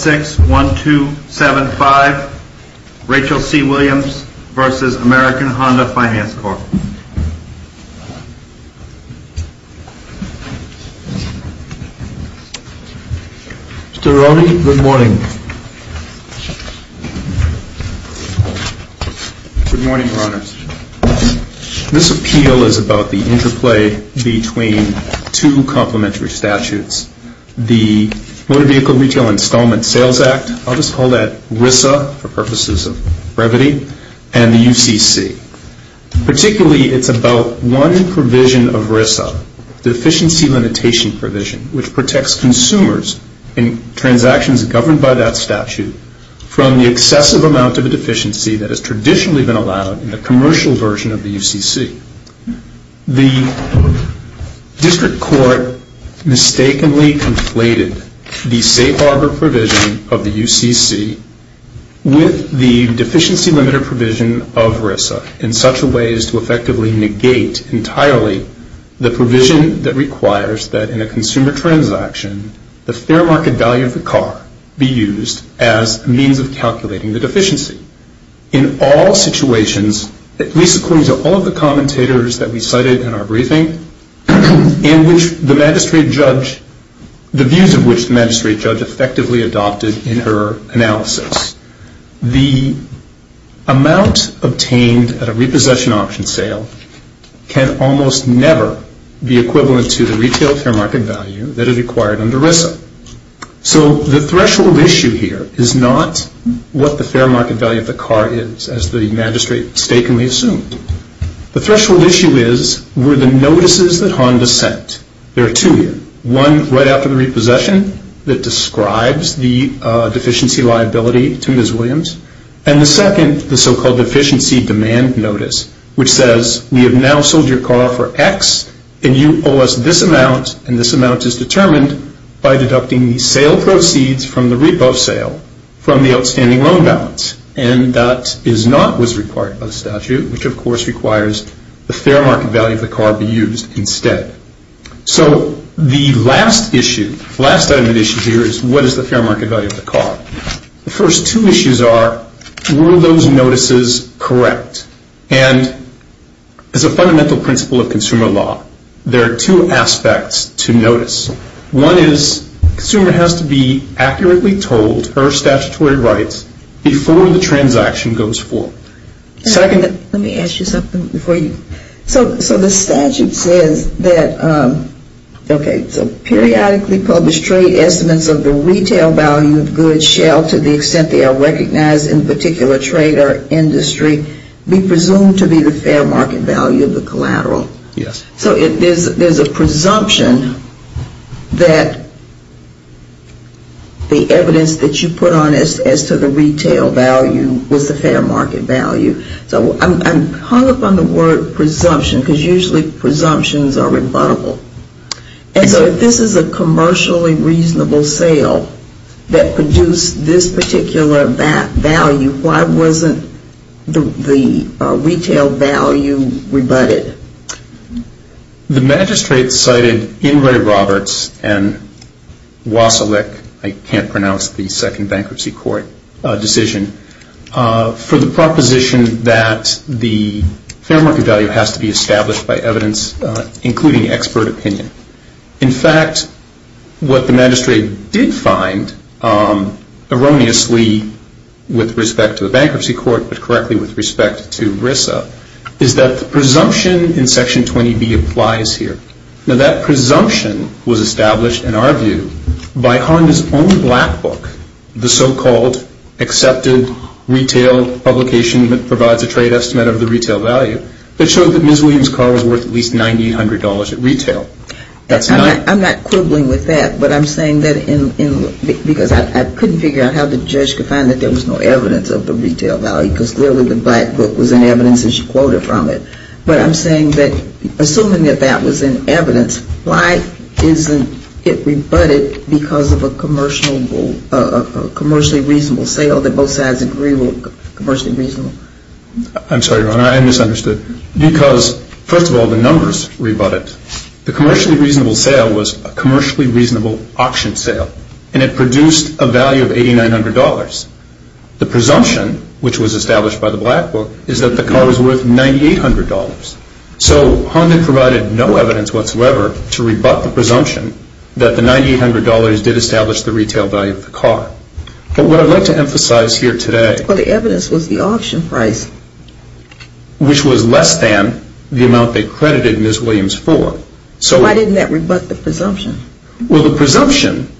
6-1-2-7-5, Rachel C. Williams v. American Honda Finance Corp. Mr. Rodney, good morning. Good morning, Your Honors. This appeal is about the interplay between two complementary statutes. The Motor Vehicle Retail Installment Sales Act, I'll just call that RISA for purposes of brevity, and the UCC. Particularly, it's about one provision of RISA, Deficiency Limitation Provision, which protects consumers in transactions governed by that statute from the excessive amount of a deficiency that has traditionally been allowed in the commercial version of the UCC. The District Court mistakenly conflated the Safe Harbor Provision of the UCC with the Deficiency Limiter Provision of RISA in such a way as to effectively negate entirely the provision that requires that in a consumer transaction, the fair market value of the car be used as a means of calculating the deficiency. In all situations, at least according to all of the commentators that we cited in our briefing, in which the magistrate judge, the views of which the magistrate judge effectively adopted in her analysis, the amount obtained at a repossession auction sale can almost never be equivalent to the retail fair market value that it acquired under RISA. So the threshold issue here is not what the fair market value of the car is, as the magistrate mistakenly assumed. The threshold issue is, were the notices that Honda sent, there are two here, one right after the repossession that describes the deficiency liability to Ms. Williams, and the second, the so-called Deficiency Demand Notice, which says, we have now sold your car for X, and you owe us this amount, and this amount is determined by deducting the sale proceeds from the repo sale from the outstanding loan balance. And that is not what is required by the statute, which of course requires the fair market value of the car be used instead. So the last issue, last item of the issue here is, what is the fair market value of the car? The first two issues are, were those notices correct? And as a fundamental principle of consumer law, there are two aspects to notice. One is, the consumer has to be accurately told her statutory rights before the transaction goes forward. Let me ask you something before you. So the statute says that, okay, so periodically published trade estimates of the retail value of goods shall, to the extent they are recognized in particular trade or industry, be presumed to be the fair market value of the collateral. Yes. So there is a presumption that the evidence that you put on as to the retail value was the fair market value. So I'm hung up on the word presumption, because usually presumptions are rebuttable. And so if this is a commercially reasonable sale that produced this particular value, why wasn't the retail value rebutted? The magistrate cited Inouye Roberts and Wasilek, I can't pronounce the second bankruptcy court decision, for the proposition that the fair market value has to be established by evidence, including expert opinion. In fact, what the magistrate did find erroneously with respect to the bankruptcy court, but correctly with respect to RISA, is that the presumption in Section 20B applies here. Now that presumption was established, in our view, by Honda's own black book, the so-called accepted retail publication that provides a trade estimate of the retail value, that showed that Ms. Williams' car was worth at least $1,900 at retail. I'm not quibbling with that, but I'm saying that because I couldn't figure out how the judge could find that there was no evidence of the retail value, because clearly the black book was in evidence and she quoted from it. But I'm saying that assuming that that was in evidence, why isn't it rebutted because of a commercially reasonable sale that both sides agree were commercially reasonable? I'm sorry, Your Honor, I misunderstood. Because, first of all, the numbers rebutted. The commercially reasonable sale was a commercially reasonable auction sale and it produced a value of $8,900. The presumption, which was established by the black book, is that the car was worth $9,800. So Honda provided no evidence whatsoever to rebut the presumption that the $9,800 did establish the retail value of the car. But what I'd like to emphasize here today Well, the evidence was the auction price. Which was less than the amount they credited Ms. Williams for. So why didn't that rebut the presumption? Well, the presumption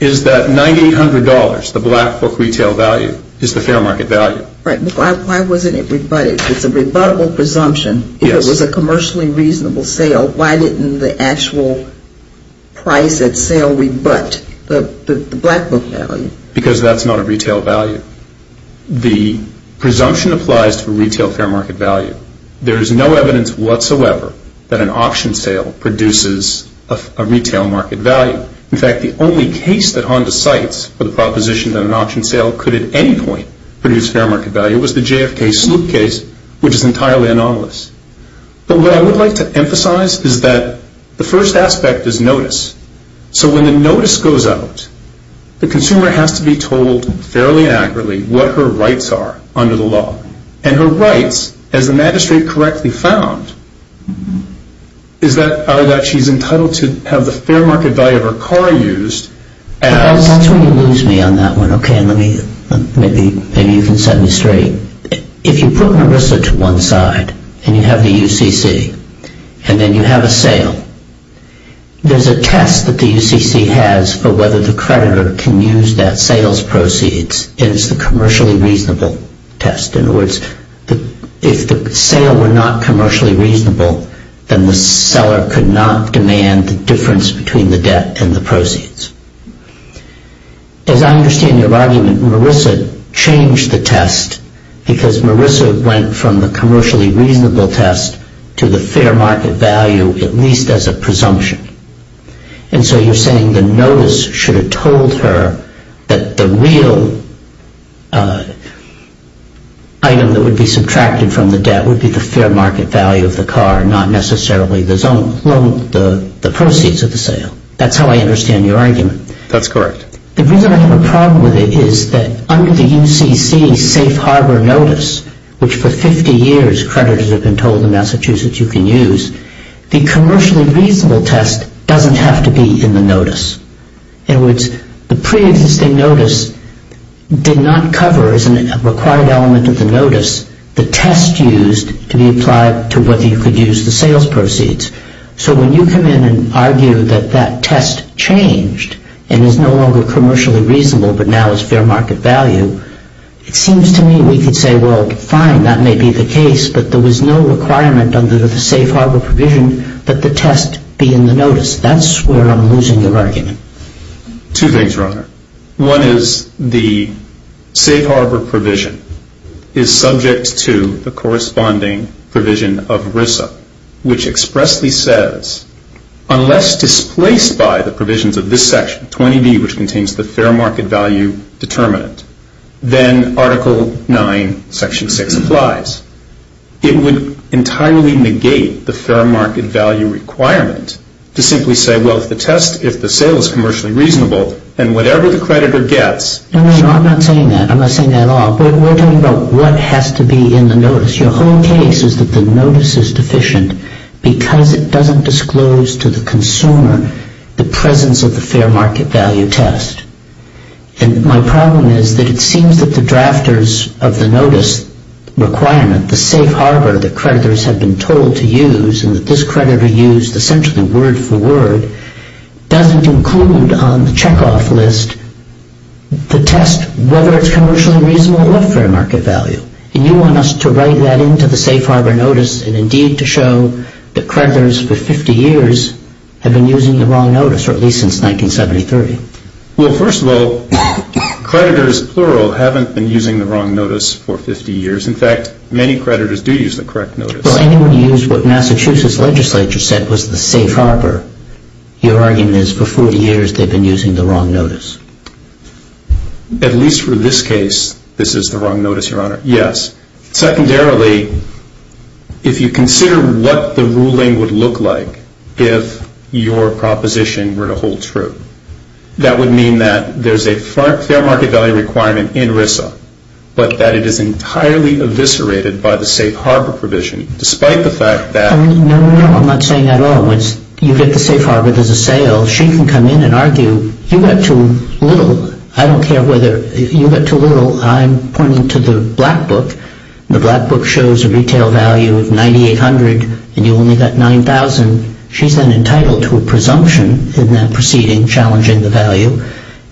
is that $9,800, the black book retail value, is the fair market value. Right, but why wasn't it rebutted? It's a rebuttable presumption. If it was a commercially reasonable sale, why didn't the actual price at sale rebut the black book value? Because that's not a retail value. The presumption applies to a retail fair market value. There is no evidence whatsoever that an auction sale produces a retail market value. In fact, the only case that Honda cites for the proposition that an auction sale could at any point produce fair market value was the JFK Sloop case, which is entirely anomalous. But what I would like to emphasize is that the first aspect is notice. So when the notice goes out, the consumer has to be told fairly accurately what her rights are under the law. And her rights, as the magistrate correctly found, is that she's entitled to have the fair market value of her car used as That's where you lose me on that one. Okay, maybe you can set me straight. If you put Marissa to one side, and you have the UCC, and then you have a sale, there's a test that the UCC has for whether the creditor can use that sales proceeds, and it's the commercially reasonable test. In other words, if the sale were not commercially reasonable, then the seller could not demand the difference between the debt and the proceeds. As I understand your argument, Marissa changed the test because Marissa went from the commercially reasonable test to the fair market value, at least as a presumption. And so you're saying the notice should have told her that the real item that would be subtracted from the debt would be the fair market value of the car, not necessarily the proceeds of the sale. That's how I understand your argument. That's correct. The reason I have a problem with it is that under the UCC safe harbor notice, which for 50 years creditors have been told in Massachusetts you can use, the commercially reasonable test doesn't have to be in the notice. In other words, the pre-existing notice did not cover as a required element of the notice the test used to be applied to whether you could use the sales proceeds. So when you come in and argue that that test changed and is no longer commercially reasonable but now is fair market value, it seems to me we could say, well, fine, that may be the case, but there was no requirement under the safe harbor provision that the test be in the notice. That's where I'm losing your argument. Two things, Your Honor. One is the safe harbor provision is subject to the corresponding provision of RISA, which expressly says, unless displaced by the provisions of this section, 20B, which contains the fair market value determinant. Then Article 9, Section 6 applies. It would entirely negate the fair market value requirement to simply say, well, if the test, if the sale is commercially reasonable, then whatever the creditor gets. No, no, no, I'm not saying that. I'm not saying that at all. We're talking about what has to be in the notice. Your whole case is that the notice is deficient because it doesn't disclose to the consumer the presence of the fair market value test. And my problem is that it seems that the drafters of the notice requirement, the safe harbor that creditors have been told to use and that this creditor used essentially word for word, doesn't include on the checkoff list the test, whether it's commercially reasonable or fair market value. And you want us to write that into the safe harbor notice and indeed to show that creditors for 50 years have been using the wrong notice, or at least since 1973. Well, first of all, creditors, plural, haven't been using the wrong notice for 50 years. In fact, many creditors do use the correct notice. Well, anyone who used what Massachusetts legislature said was the safe harbor, your argument is for 40 years they've been using the wrong notice. At least for this case, this is the wrong notice, Your Honor. Yes. Secondarily, if you consider what the ruling would look like if your proposition were to hold true, that would mean that there's a fair market value requirement in RISA, but that it is entirely eviscerated by the safe harbor provision, despite the fact that... No, no, no, I'm not saying that at all. Once you get the safe harbor, there's a sale. Well, she can come in and argue, you got too little. I don't care whether you got too little. I'm pointing to the Black Book. The Black Book shows a retail value of $9,800, and you only got $9,000. She's then entitled to a presumption in that proceeding challenging the value.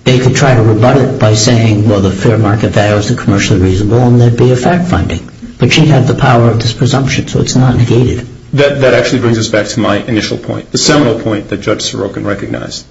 They could try to rebut it by saying, well, the fair market value is commercially reasonable, and there'd be a fact finding. But she'd have the power of this presumption, so it's not negated. That actually brings us back to my initial point, the seminal point that Judge Sorokin recognized.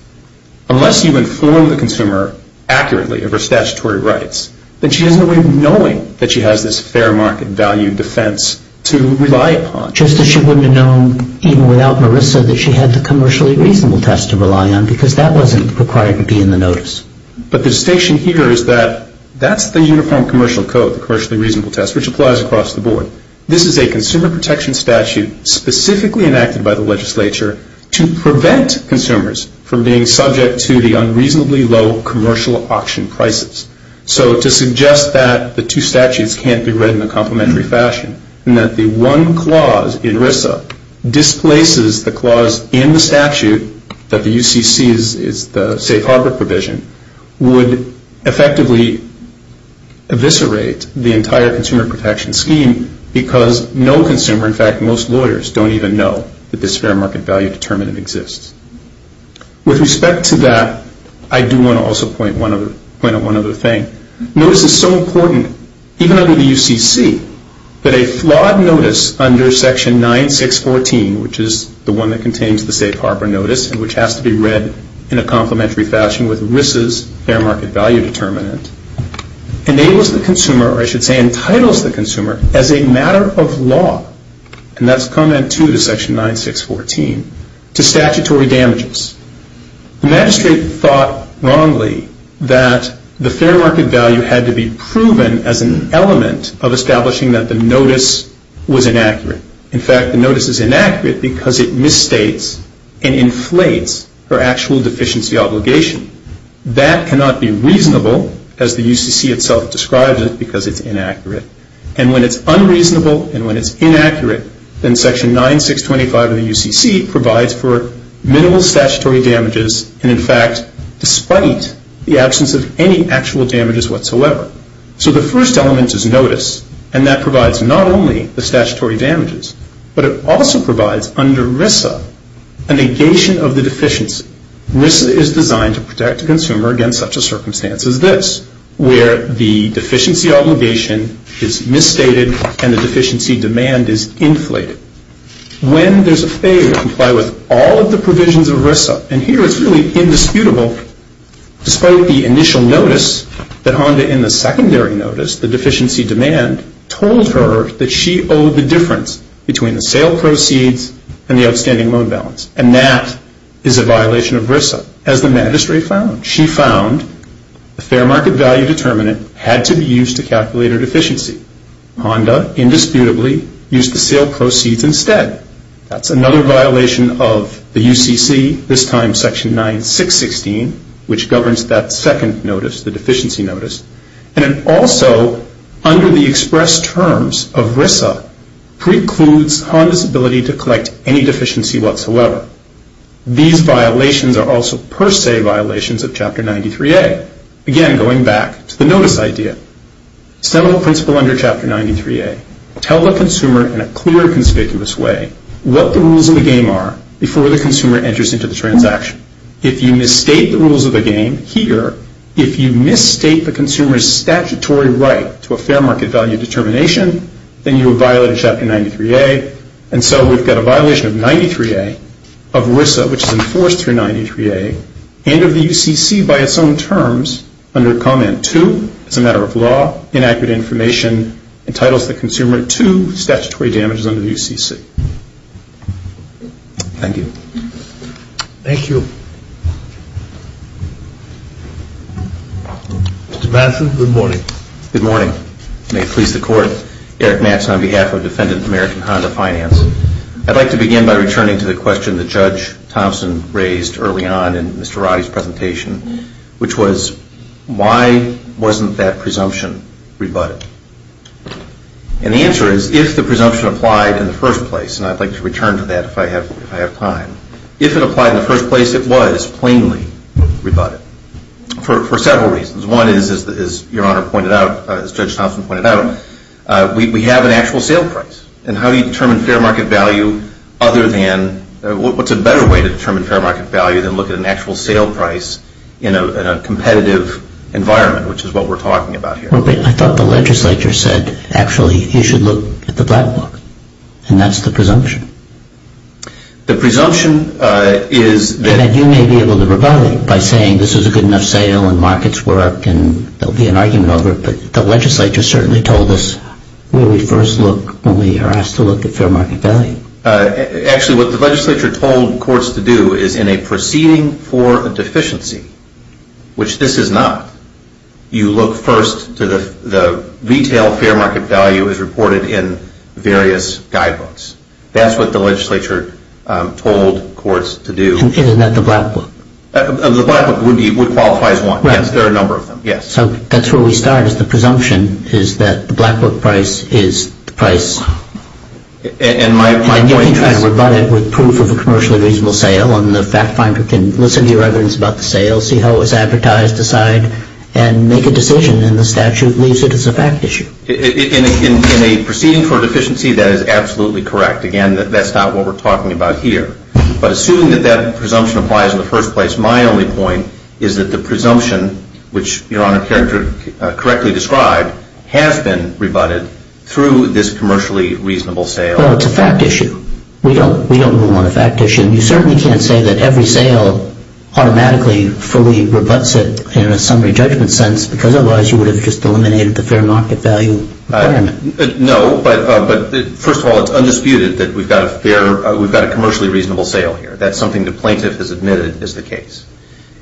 Unless you inform the consumer accurately of her statutory rights, then she has no way of knowing that she has this fair market value defense to rely upon. Just as she wouldn't have known, even without RISA, that she had the commercially reasonable test to rely on, because that wasn't required to be in the notice. But the distinction here is that that's the Uniform Commercial Code, the commercially reasonable test, which applies across the board. This is a consumer protection statute specifically enacted by the legislature to prevent consumers from being subject to the unreasonably low commercial auction prices. So to suggest that the two statutes can't be read in a complementary fashion, and that the one clause in RISA displaces the clause in the statute, that the UCC is the safe harbor provision, would effectively eviscerate the entire consumer protection scheme, because no consumer, in fact most lawyers, don't even know that this fair market value determinant exists. With respect to that, I do want to also point out one other thing. Notice is so important, even under the UCC, that a flawed notice under Section 9614, which is the one that contains the safe harbor notice, and which has to be read in a complementary fashion with RISA's fair market value determinant, enables the consumer, or I should say entitles the consumer, as a matter of law, and that's comment two to Section 9614, to statutory damages. The magistrate thought wrongly that the fair market value had to be proven as an element of establishing that the notice was inaccurate. In fact, the notice is inaccurate because it misstates and inflates her actual deficiency obligation. That cannot be reasonable, as the UCC itself describes it, because it's inaccurate. And when it's unreasonable and when it's inaccurate, then Section 9625 of the UCC provides for minimal statutory damages, and in fact, despite the absence of any actual damages whatsoever. So the first element is notice, and that provides not only the statutory damages, but it also provides, under RISA, a negation of the deficiency. RISA is designed to protect the consumer against such a circumstance as this, where the deficiency obligation is misstated and the deficiency demand is inflated. When there's a failure to comply with all of the provisions of RISA, and here it's really indisputable, despite the initial notice, that Honda, in the secondary notice, the deficiency demand, told her that she owed the difference between the sale proceeds and the outstanding loan balance, and that is a violation of RISA, as the magistrate found. She found the fair market value determinant had to be used to calculate her deficiency. Honda, indisputably, used the sale proceeds instead. That's another violation of the UCC, this time Section 9616, which governs that second notice, the deficiency notice, and it also, under the express terms of RISA, precludes Honda's ability to collect any deficiency whatsoever. These violations are also per se violations of Chapter 93A. Again, going back to the notice idea. Seminal principle under Chapter 93A. Tell the consumer in a clear and conspicuous way what the rules of the game are before the consumer enters into the transaction. If you misstate the rules of the game here, if you misstate the consumer's statutory right to a fair market value determination, then you have violated Chapter 93A, and so we've got a violation of 93A, of RISA, which is enforced through 93A, and of the UCC by its own terms under Comment 2, as a matter of law, inaccurate information entitles the consumer to statutory damages under the UCC. Thank you. Thank you. Mr. Matheson, good morning. Good morning. May it please the Court, Eric Matheson on behalf of Defendant American Honda Finance. I'd like to begin by returning to the question that Judge Thompson raised early on in Mr. Roddy's presentation, which was why wasn't that presumption rebutted? And the answer is if the presumption applied in the first place, and I'd like to return to that if I have time, if it applied in the first place, it was plainly rebutted for several reasons. One is, as Your Honor pointed out, as Judge Thompson pointed out, we have an actual sale price, and how do you determine fair market value other than, what's a better way to determine fair market value than look at an actual sale price in a competitive environment, which is what we're talking about here? I thought the legislature said actually you should look at the black book, and that's the presumption. The presumption is that You may be able to rebut it by saying this is a good enough sale and markets work and there'll be an argument over it, but the legislature certainly told us where we first look when we are asked to look at fair market value. Actually, what the legislature told courts to do is in a proceeding for a deficiency, which this is not, you look first to the retail fair market value as reported in various guidebooks. That's what the legislature told courts to do. Isn't that the black book? The black book would qualify as one. There are a number of them, yes. So that's where we start is the presumption is that the black book price is the price. And my point is You can try to rebut it with proof of a commercially reasonable sale and the fact finder can listen to your evidence about the sale, see how it was advertised aside, and make a decision and the statute leaves it as a fact issue. In a proceeding for a deficiency, that is absolutely correct. Again, that's not what we're talking about here. But assuming that that presumption applies in the first place, my only point is that the presumption, which Your Honor correctly described, has been rebutted through this commercially reasonable sale. Well, it's a fact issue. We don't move on a fact issue. You certainly can't say that every sale automatically fully rebuts it in a summary judgment sentence because otherwise you would have just eliminated the fair market value requirement. No, but first of all, it's undisputed that we've got a commercially reasonable sale here. That's something the plaintiff has admitted is the case.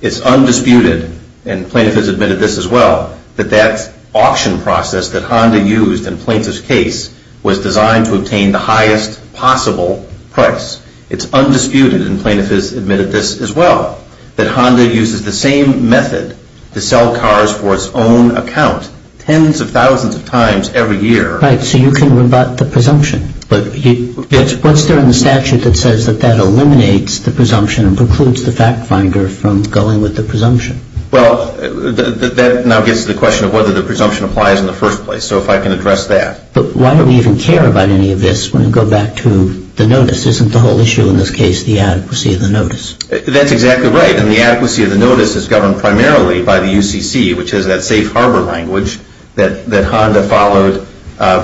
It's undisputed, and the plaintiff has admitted this as well, that that auction process that Honda used in the plaintiff's case was designed to obtain the highest possible price. It's undisputed, and the plaintiff has admitted this as well, that Honda uses the same method to sell cars for its own account tens of thousands of times every year. Right, so you can rebut the presumption. What's there in the statute that says that that eliminates the presumption and precludes the fact finder from going with the presumption? Well, that now gets to the question of whether the presumption applies in the first place. So if I can address that. But why do we even care about any of this when we go back to the notice? Isn't the whole issue in this case the adequacy of the notice? That's exactly right, and the adequacy of the notice is governed primarily by the UCC, which is that safe harbor language that Honda followed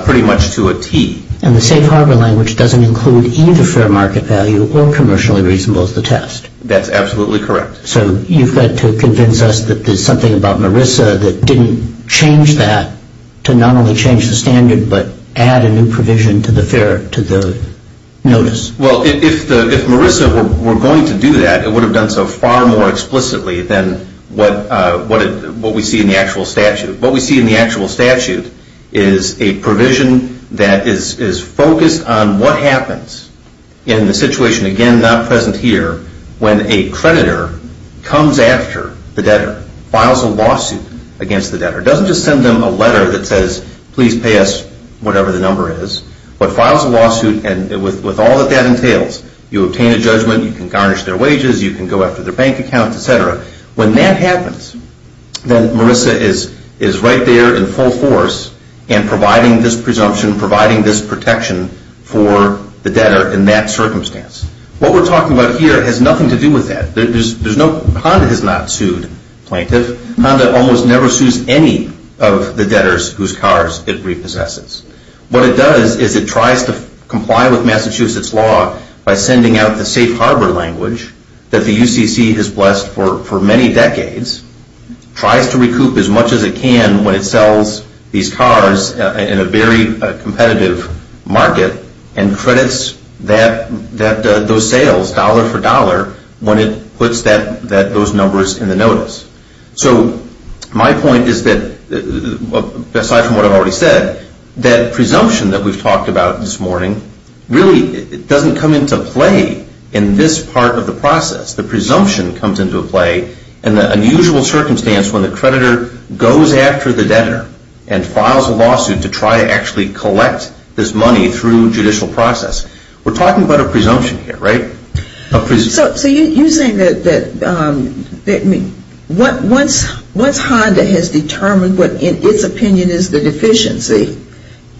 pretty much to a T. And the safe harbor language doesn't include either fair market value or commercially reasonable as the test. That's absolutely correct. So you've got to convince us that there's something about Marissa that didn't change that to not only change the standard but add a new provision to the notice. Well, if Marissa were going to do that, it would have done so far more explicitly than what we see in the actual statute. The actual statute is a provision that is focused on what happens in the situation, again, not present here, when a creditor comes after the debtor, files a lawsuit against the debtor. It doesn't just send them a letter that says, please pay us whatever the number is, but files a lawsuit. And with all that that entails, you obtain a judgment, you can garnish their wages, you can go after their bank accounts, et cetera. When that happens, then Marissa is right there in full force and providing this presumption, providing this protection for the debtor in that circumstance. What we're talking about here has nothing to do with that. Honda has not sued plaintiff. Honda almost never sues any of the debtors whose cars it repossesses. What it does is it tries to comply with Massachusetts law by sending out the safe harbor language that the UCC has blessed for many decades, tries to recoup as much as it can when it sells these cars in a very competitive market, and credits those sales dollar for dollar when it puts those numbers in the notice. So my point is that, aside from what I've already said, that presumption that we've talked about this morning really doesn't come into play in this part of the process. The presumption comes into play in the unusual circumstance when the creditor goes after the debtor and files a lawsuit to try to actually collect this money through judicial process. We're talking about a presumption here, right? So you're saying that once Honda has determined what in its opinion is the deficiency,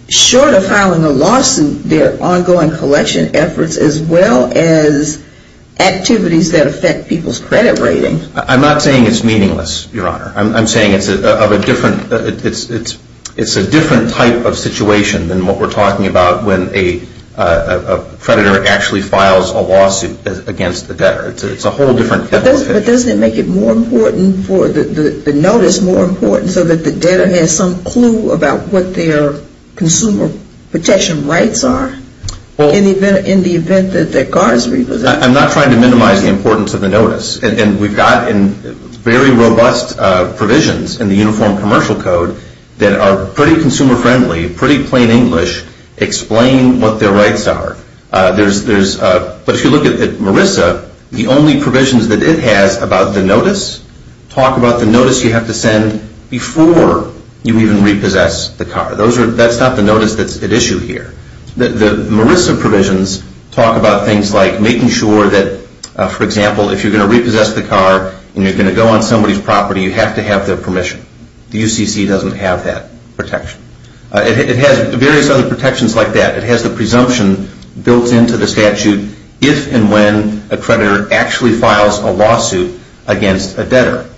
short of filing a lawsuit, their ongoing collection efforts as well as activities that affect people's credit rating. I'm not saying it's meaningless, Your Honor. I'm saying it's a different type of situation than what we're talking about when a creditor actually files a lawsuit against the debtor. It's a whole different type of situation. But doesn't it make it more important for the notice more important so that the debtor has some clue about what their consumer protection rights are in the event that their car is repossessed? I'm not trying to minimize the importance of the notice. And we've got very robust provisions in the Uniform Commercial Code that are pretty consumer friendly, pretty plain English, explain what their rights are. But if you look at Marissa, the only provisions that it has about the notice talk about the notice you have to send before you even repossess the car. That's not the notice at issue here. The Marissa provisions talk about things like making sure that, for example, if you're going to repossess the car and you're going to go on somebody's property, you have to have their permission. The UCC doesn't have that protection. It has various other protections like that. It has the presumption built into the statute if and when a creditor actually files a lawsuit against a debtor.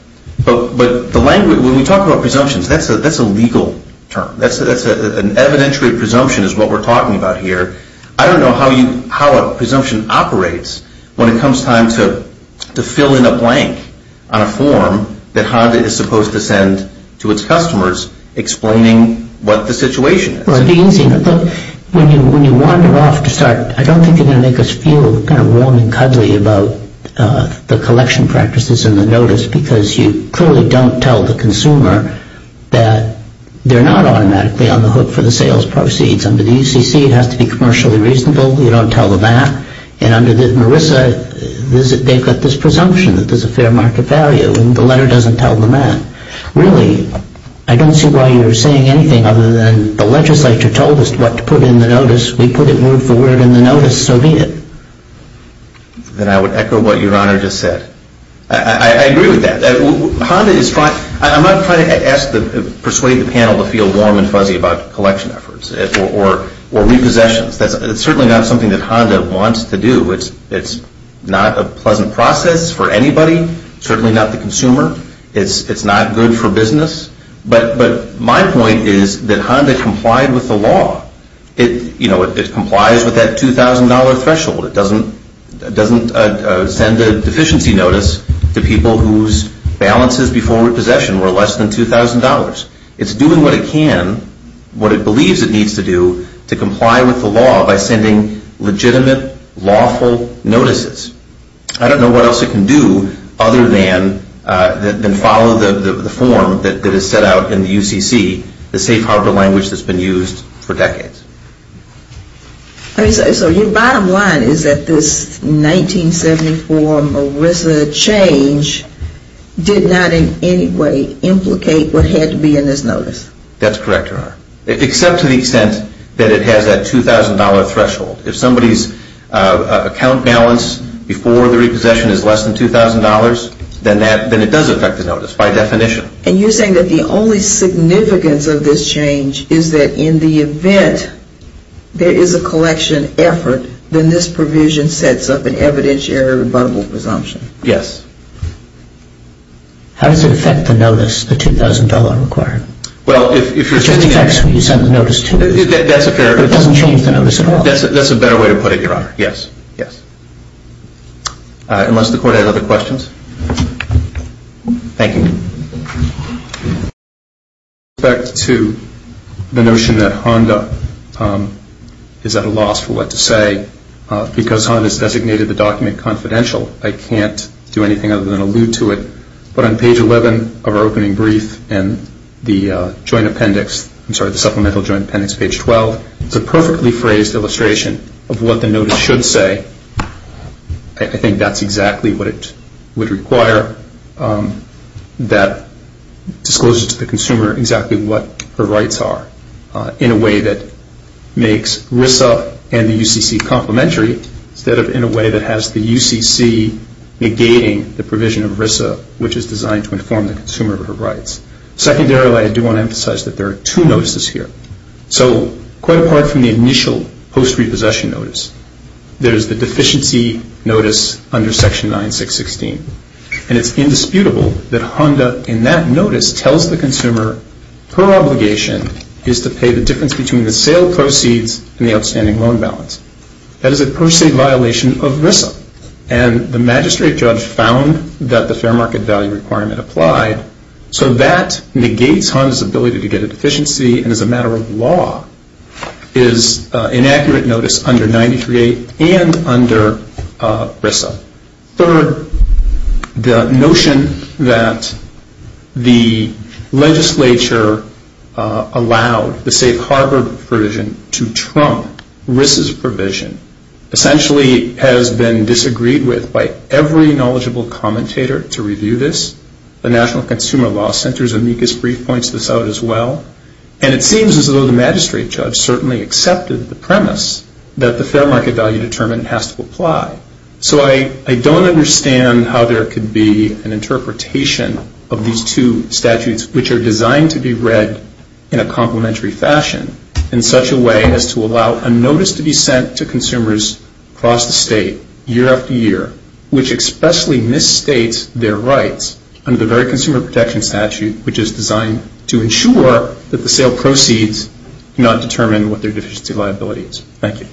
But when we talk about presumptions, that's a legal term. An evidentiary presumption is what we're talking about here. I don't know how a presumption operates when it comes time to fill in a blank on a form that Honda is supposed to send to its customers explaining what the situation is. Well, it'd be easy. When you wander off to start, I don't think you're going to make us feel kind of warm and cuddly about the collection practices in the notice because you clearly don't tell the consumer that they're not automatically on the hook for the sales proceeds. Under the UCC, it has to be commercially reasonable. You don't tell them that. And under the Marissa, they've got this presumption that there's a fair market value and the letter doesn't tell them that. Really, I don't see why you're saying anything other than the legislature told us what to put in the notice. We put it word for word in the notice, so be it. Then I would echo what Your Honor just said. I agree with that. I'm not trying to persuade the panel to feel warm and fuzzy about collection efforts or repossessions. It's certainly not something that Honda wants to do. It's not a pleasant process for anybody, certainly not the consumer. It's not good for business. But my point is that Honda complied with the law. It complies with that $2,000 threshold. It doesn't send a deficiency notice to people whose balances before repossession were less than $2,000. It's doing what it can, what it believes it needs to do, to comply with the law by sending legitimate, lawful notices. I don't know what else it can do other than follow the form that is set out in the UCC, the safe harbor language that's been used for decades. So your bottom line is that this 1974 Marissa change did not in any way implicate what had to be in this notice? That's correct, Your Honor, except to the extent that it has that $2,000 threshold. If somebody's account balance before the repossession is less than $2,000, then it does affect the notice by definition. And you're saying that the only significance of this change is that in the event there is a collection effort, then this provision sets up an evidentiary rebuttable presumption? Yes. How does it affect the notice, the $2,000 required? Well, if you're saying that... It just affects when you send the notice to people. That's a fair... But it doesn't change the notice at all. That's a better way to put it, Your Honor. Yes, yes. Unless the Court has other questions. Thank you. With respect to the notion that Honda is at a loss for what to say, because Honda has designated the document confidential, I can't do anything other than allude to it. But on page 11 of our opening brief and the supplemental joint appendix, page 12, it's a perfectly phrased illustration of what the notice should say. I think that's exactly what it would require that discloses to the consumer exactly what her rights are in a way that makes RISA and the UCC complementary, instead of in a way that has the UCC negating the provision of RISA, which is designed to inform the consumer of her rights. Secondarily, I do want to emphasize that there are two notices here. So quite apart from the initial post-repossession notice, there's the deficiency notice under Section 9616. And it's indisputable that Honda, in that notice, tells the consumer her obligation is to pay the difference between the sale proceeds and the outstanding loan balance. That is a per se violation of RISA. And the magistrate judge found that the fair market value requirement applied, so that negates Honda's ability to get a deficiency and as a matter of law is inaccurate notice under 93A and under RISA. Third, the notion that the legislature allowed the safe harbor provision to trump RISA's provision essentially has been disagreed with by every knowledgeable commentator to review this. The National Consumer Law Center's amicus brief points this out as well. And it seems as though the magistrate judge certainly accepted the premise that the fair market value determined has to apply. So I don't understand how there could be an interpretation of these two statutes, which are designed to be read in a complementary fashion, in such a way as to allow a notice to be sent to consumers across the state, year after year, which expressly misstates their rights under the very Consumer Protection Statute, which is designed to ensure that the sale proceeds do not determine what their deficiency liability is. Thank you.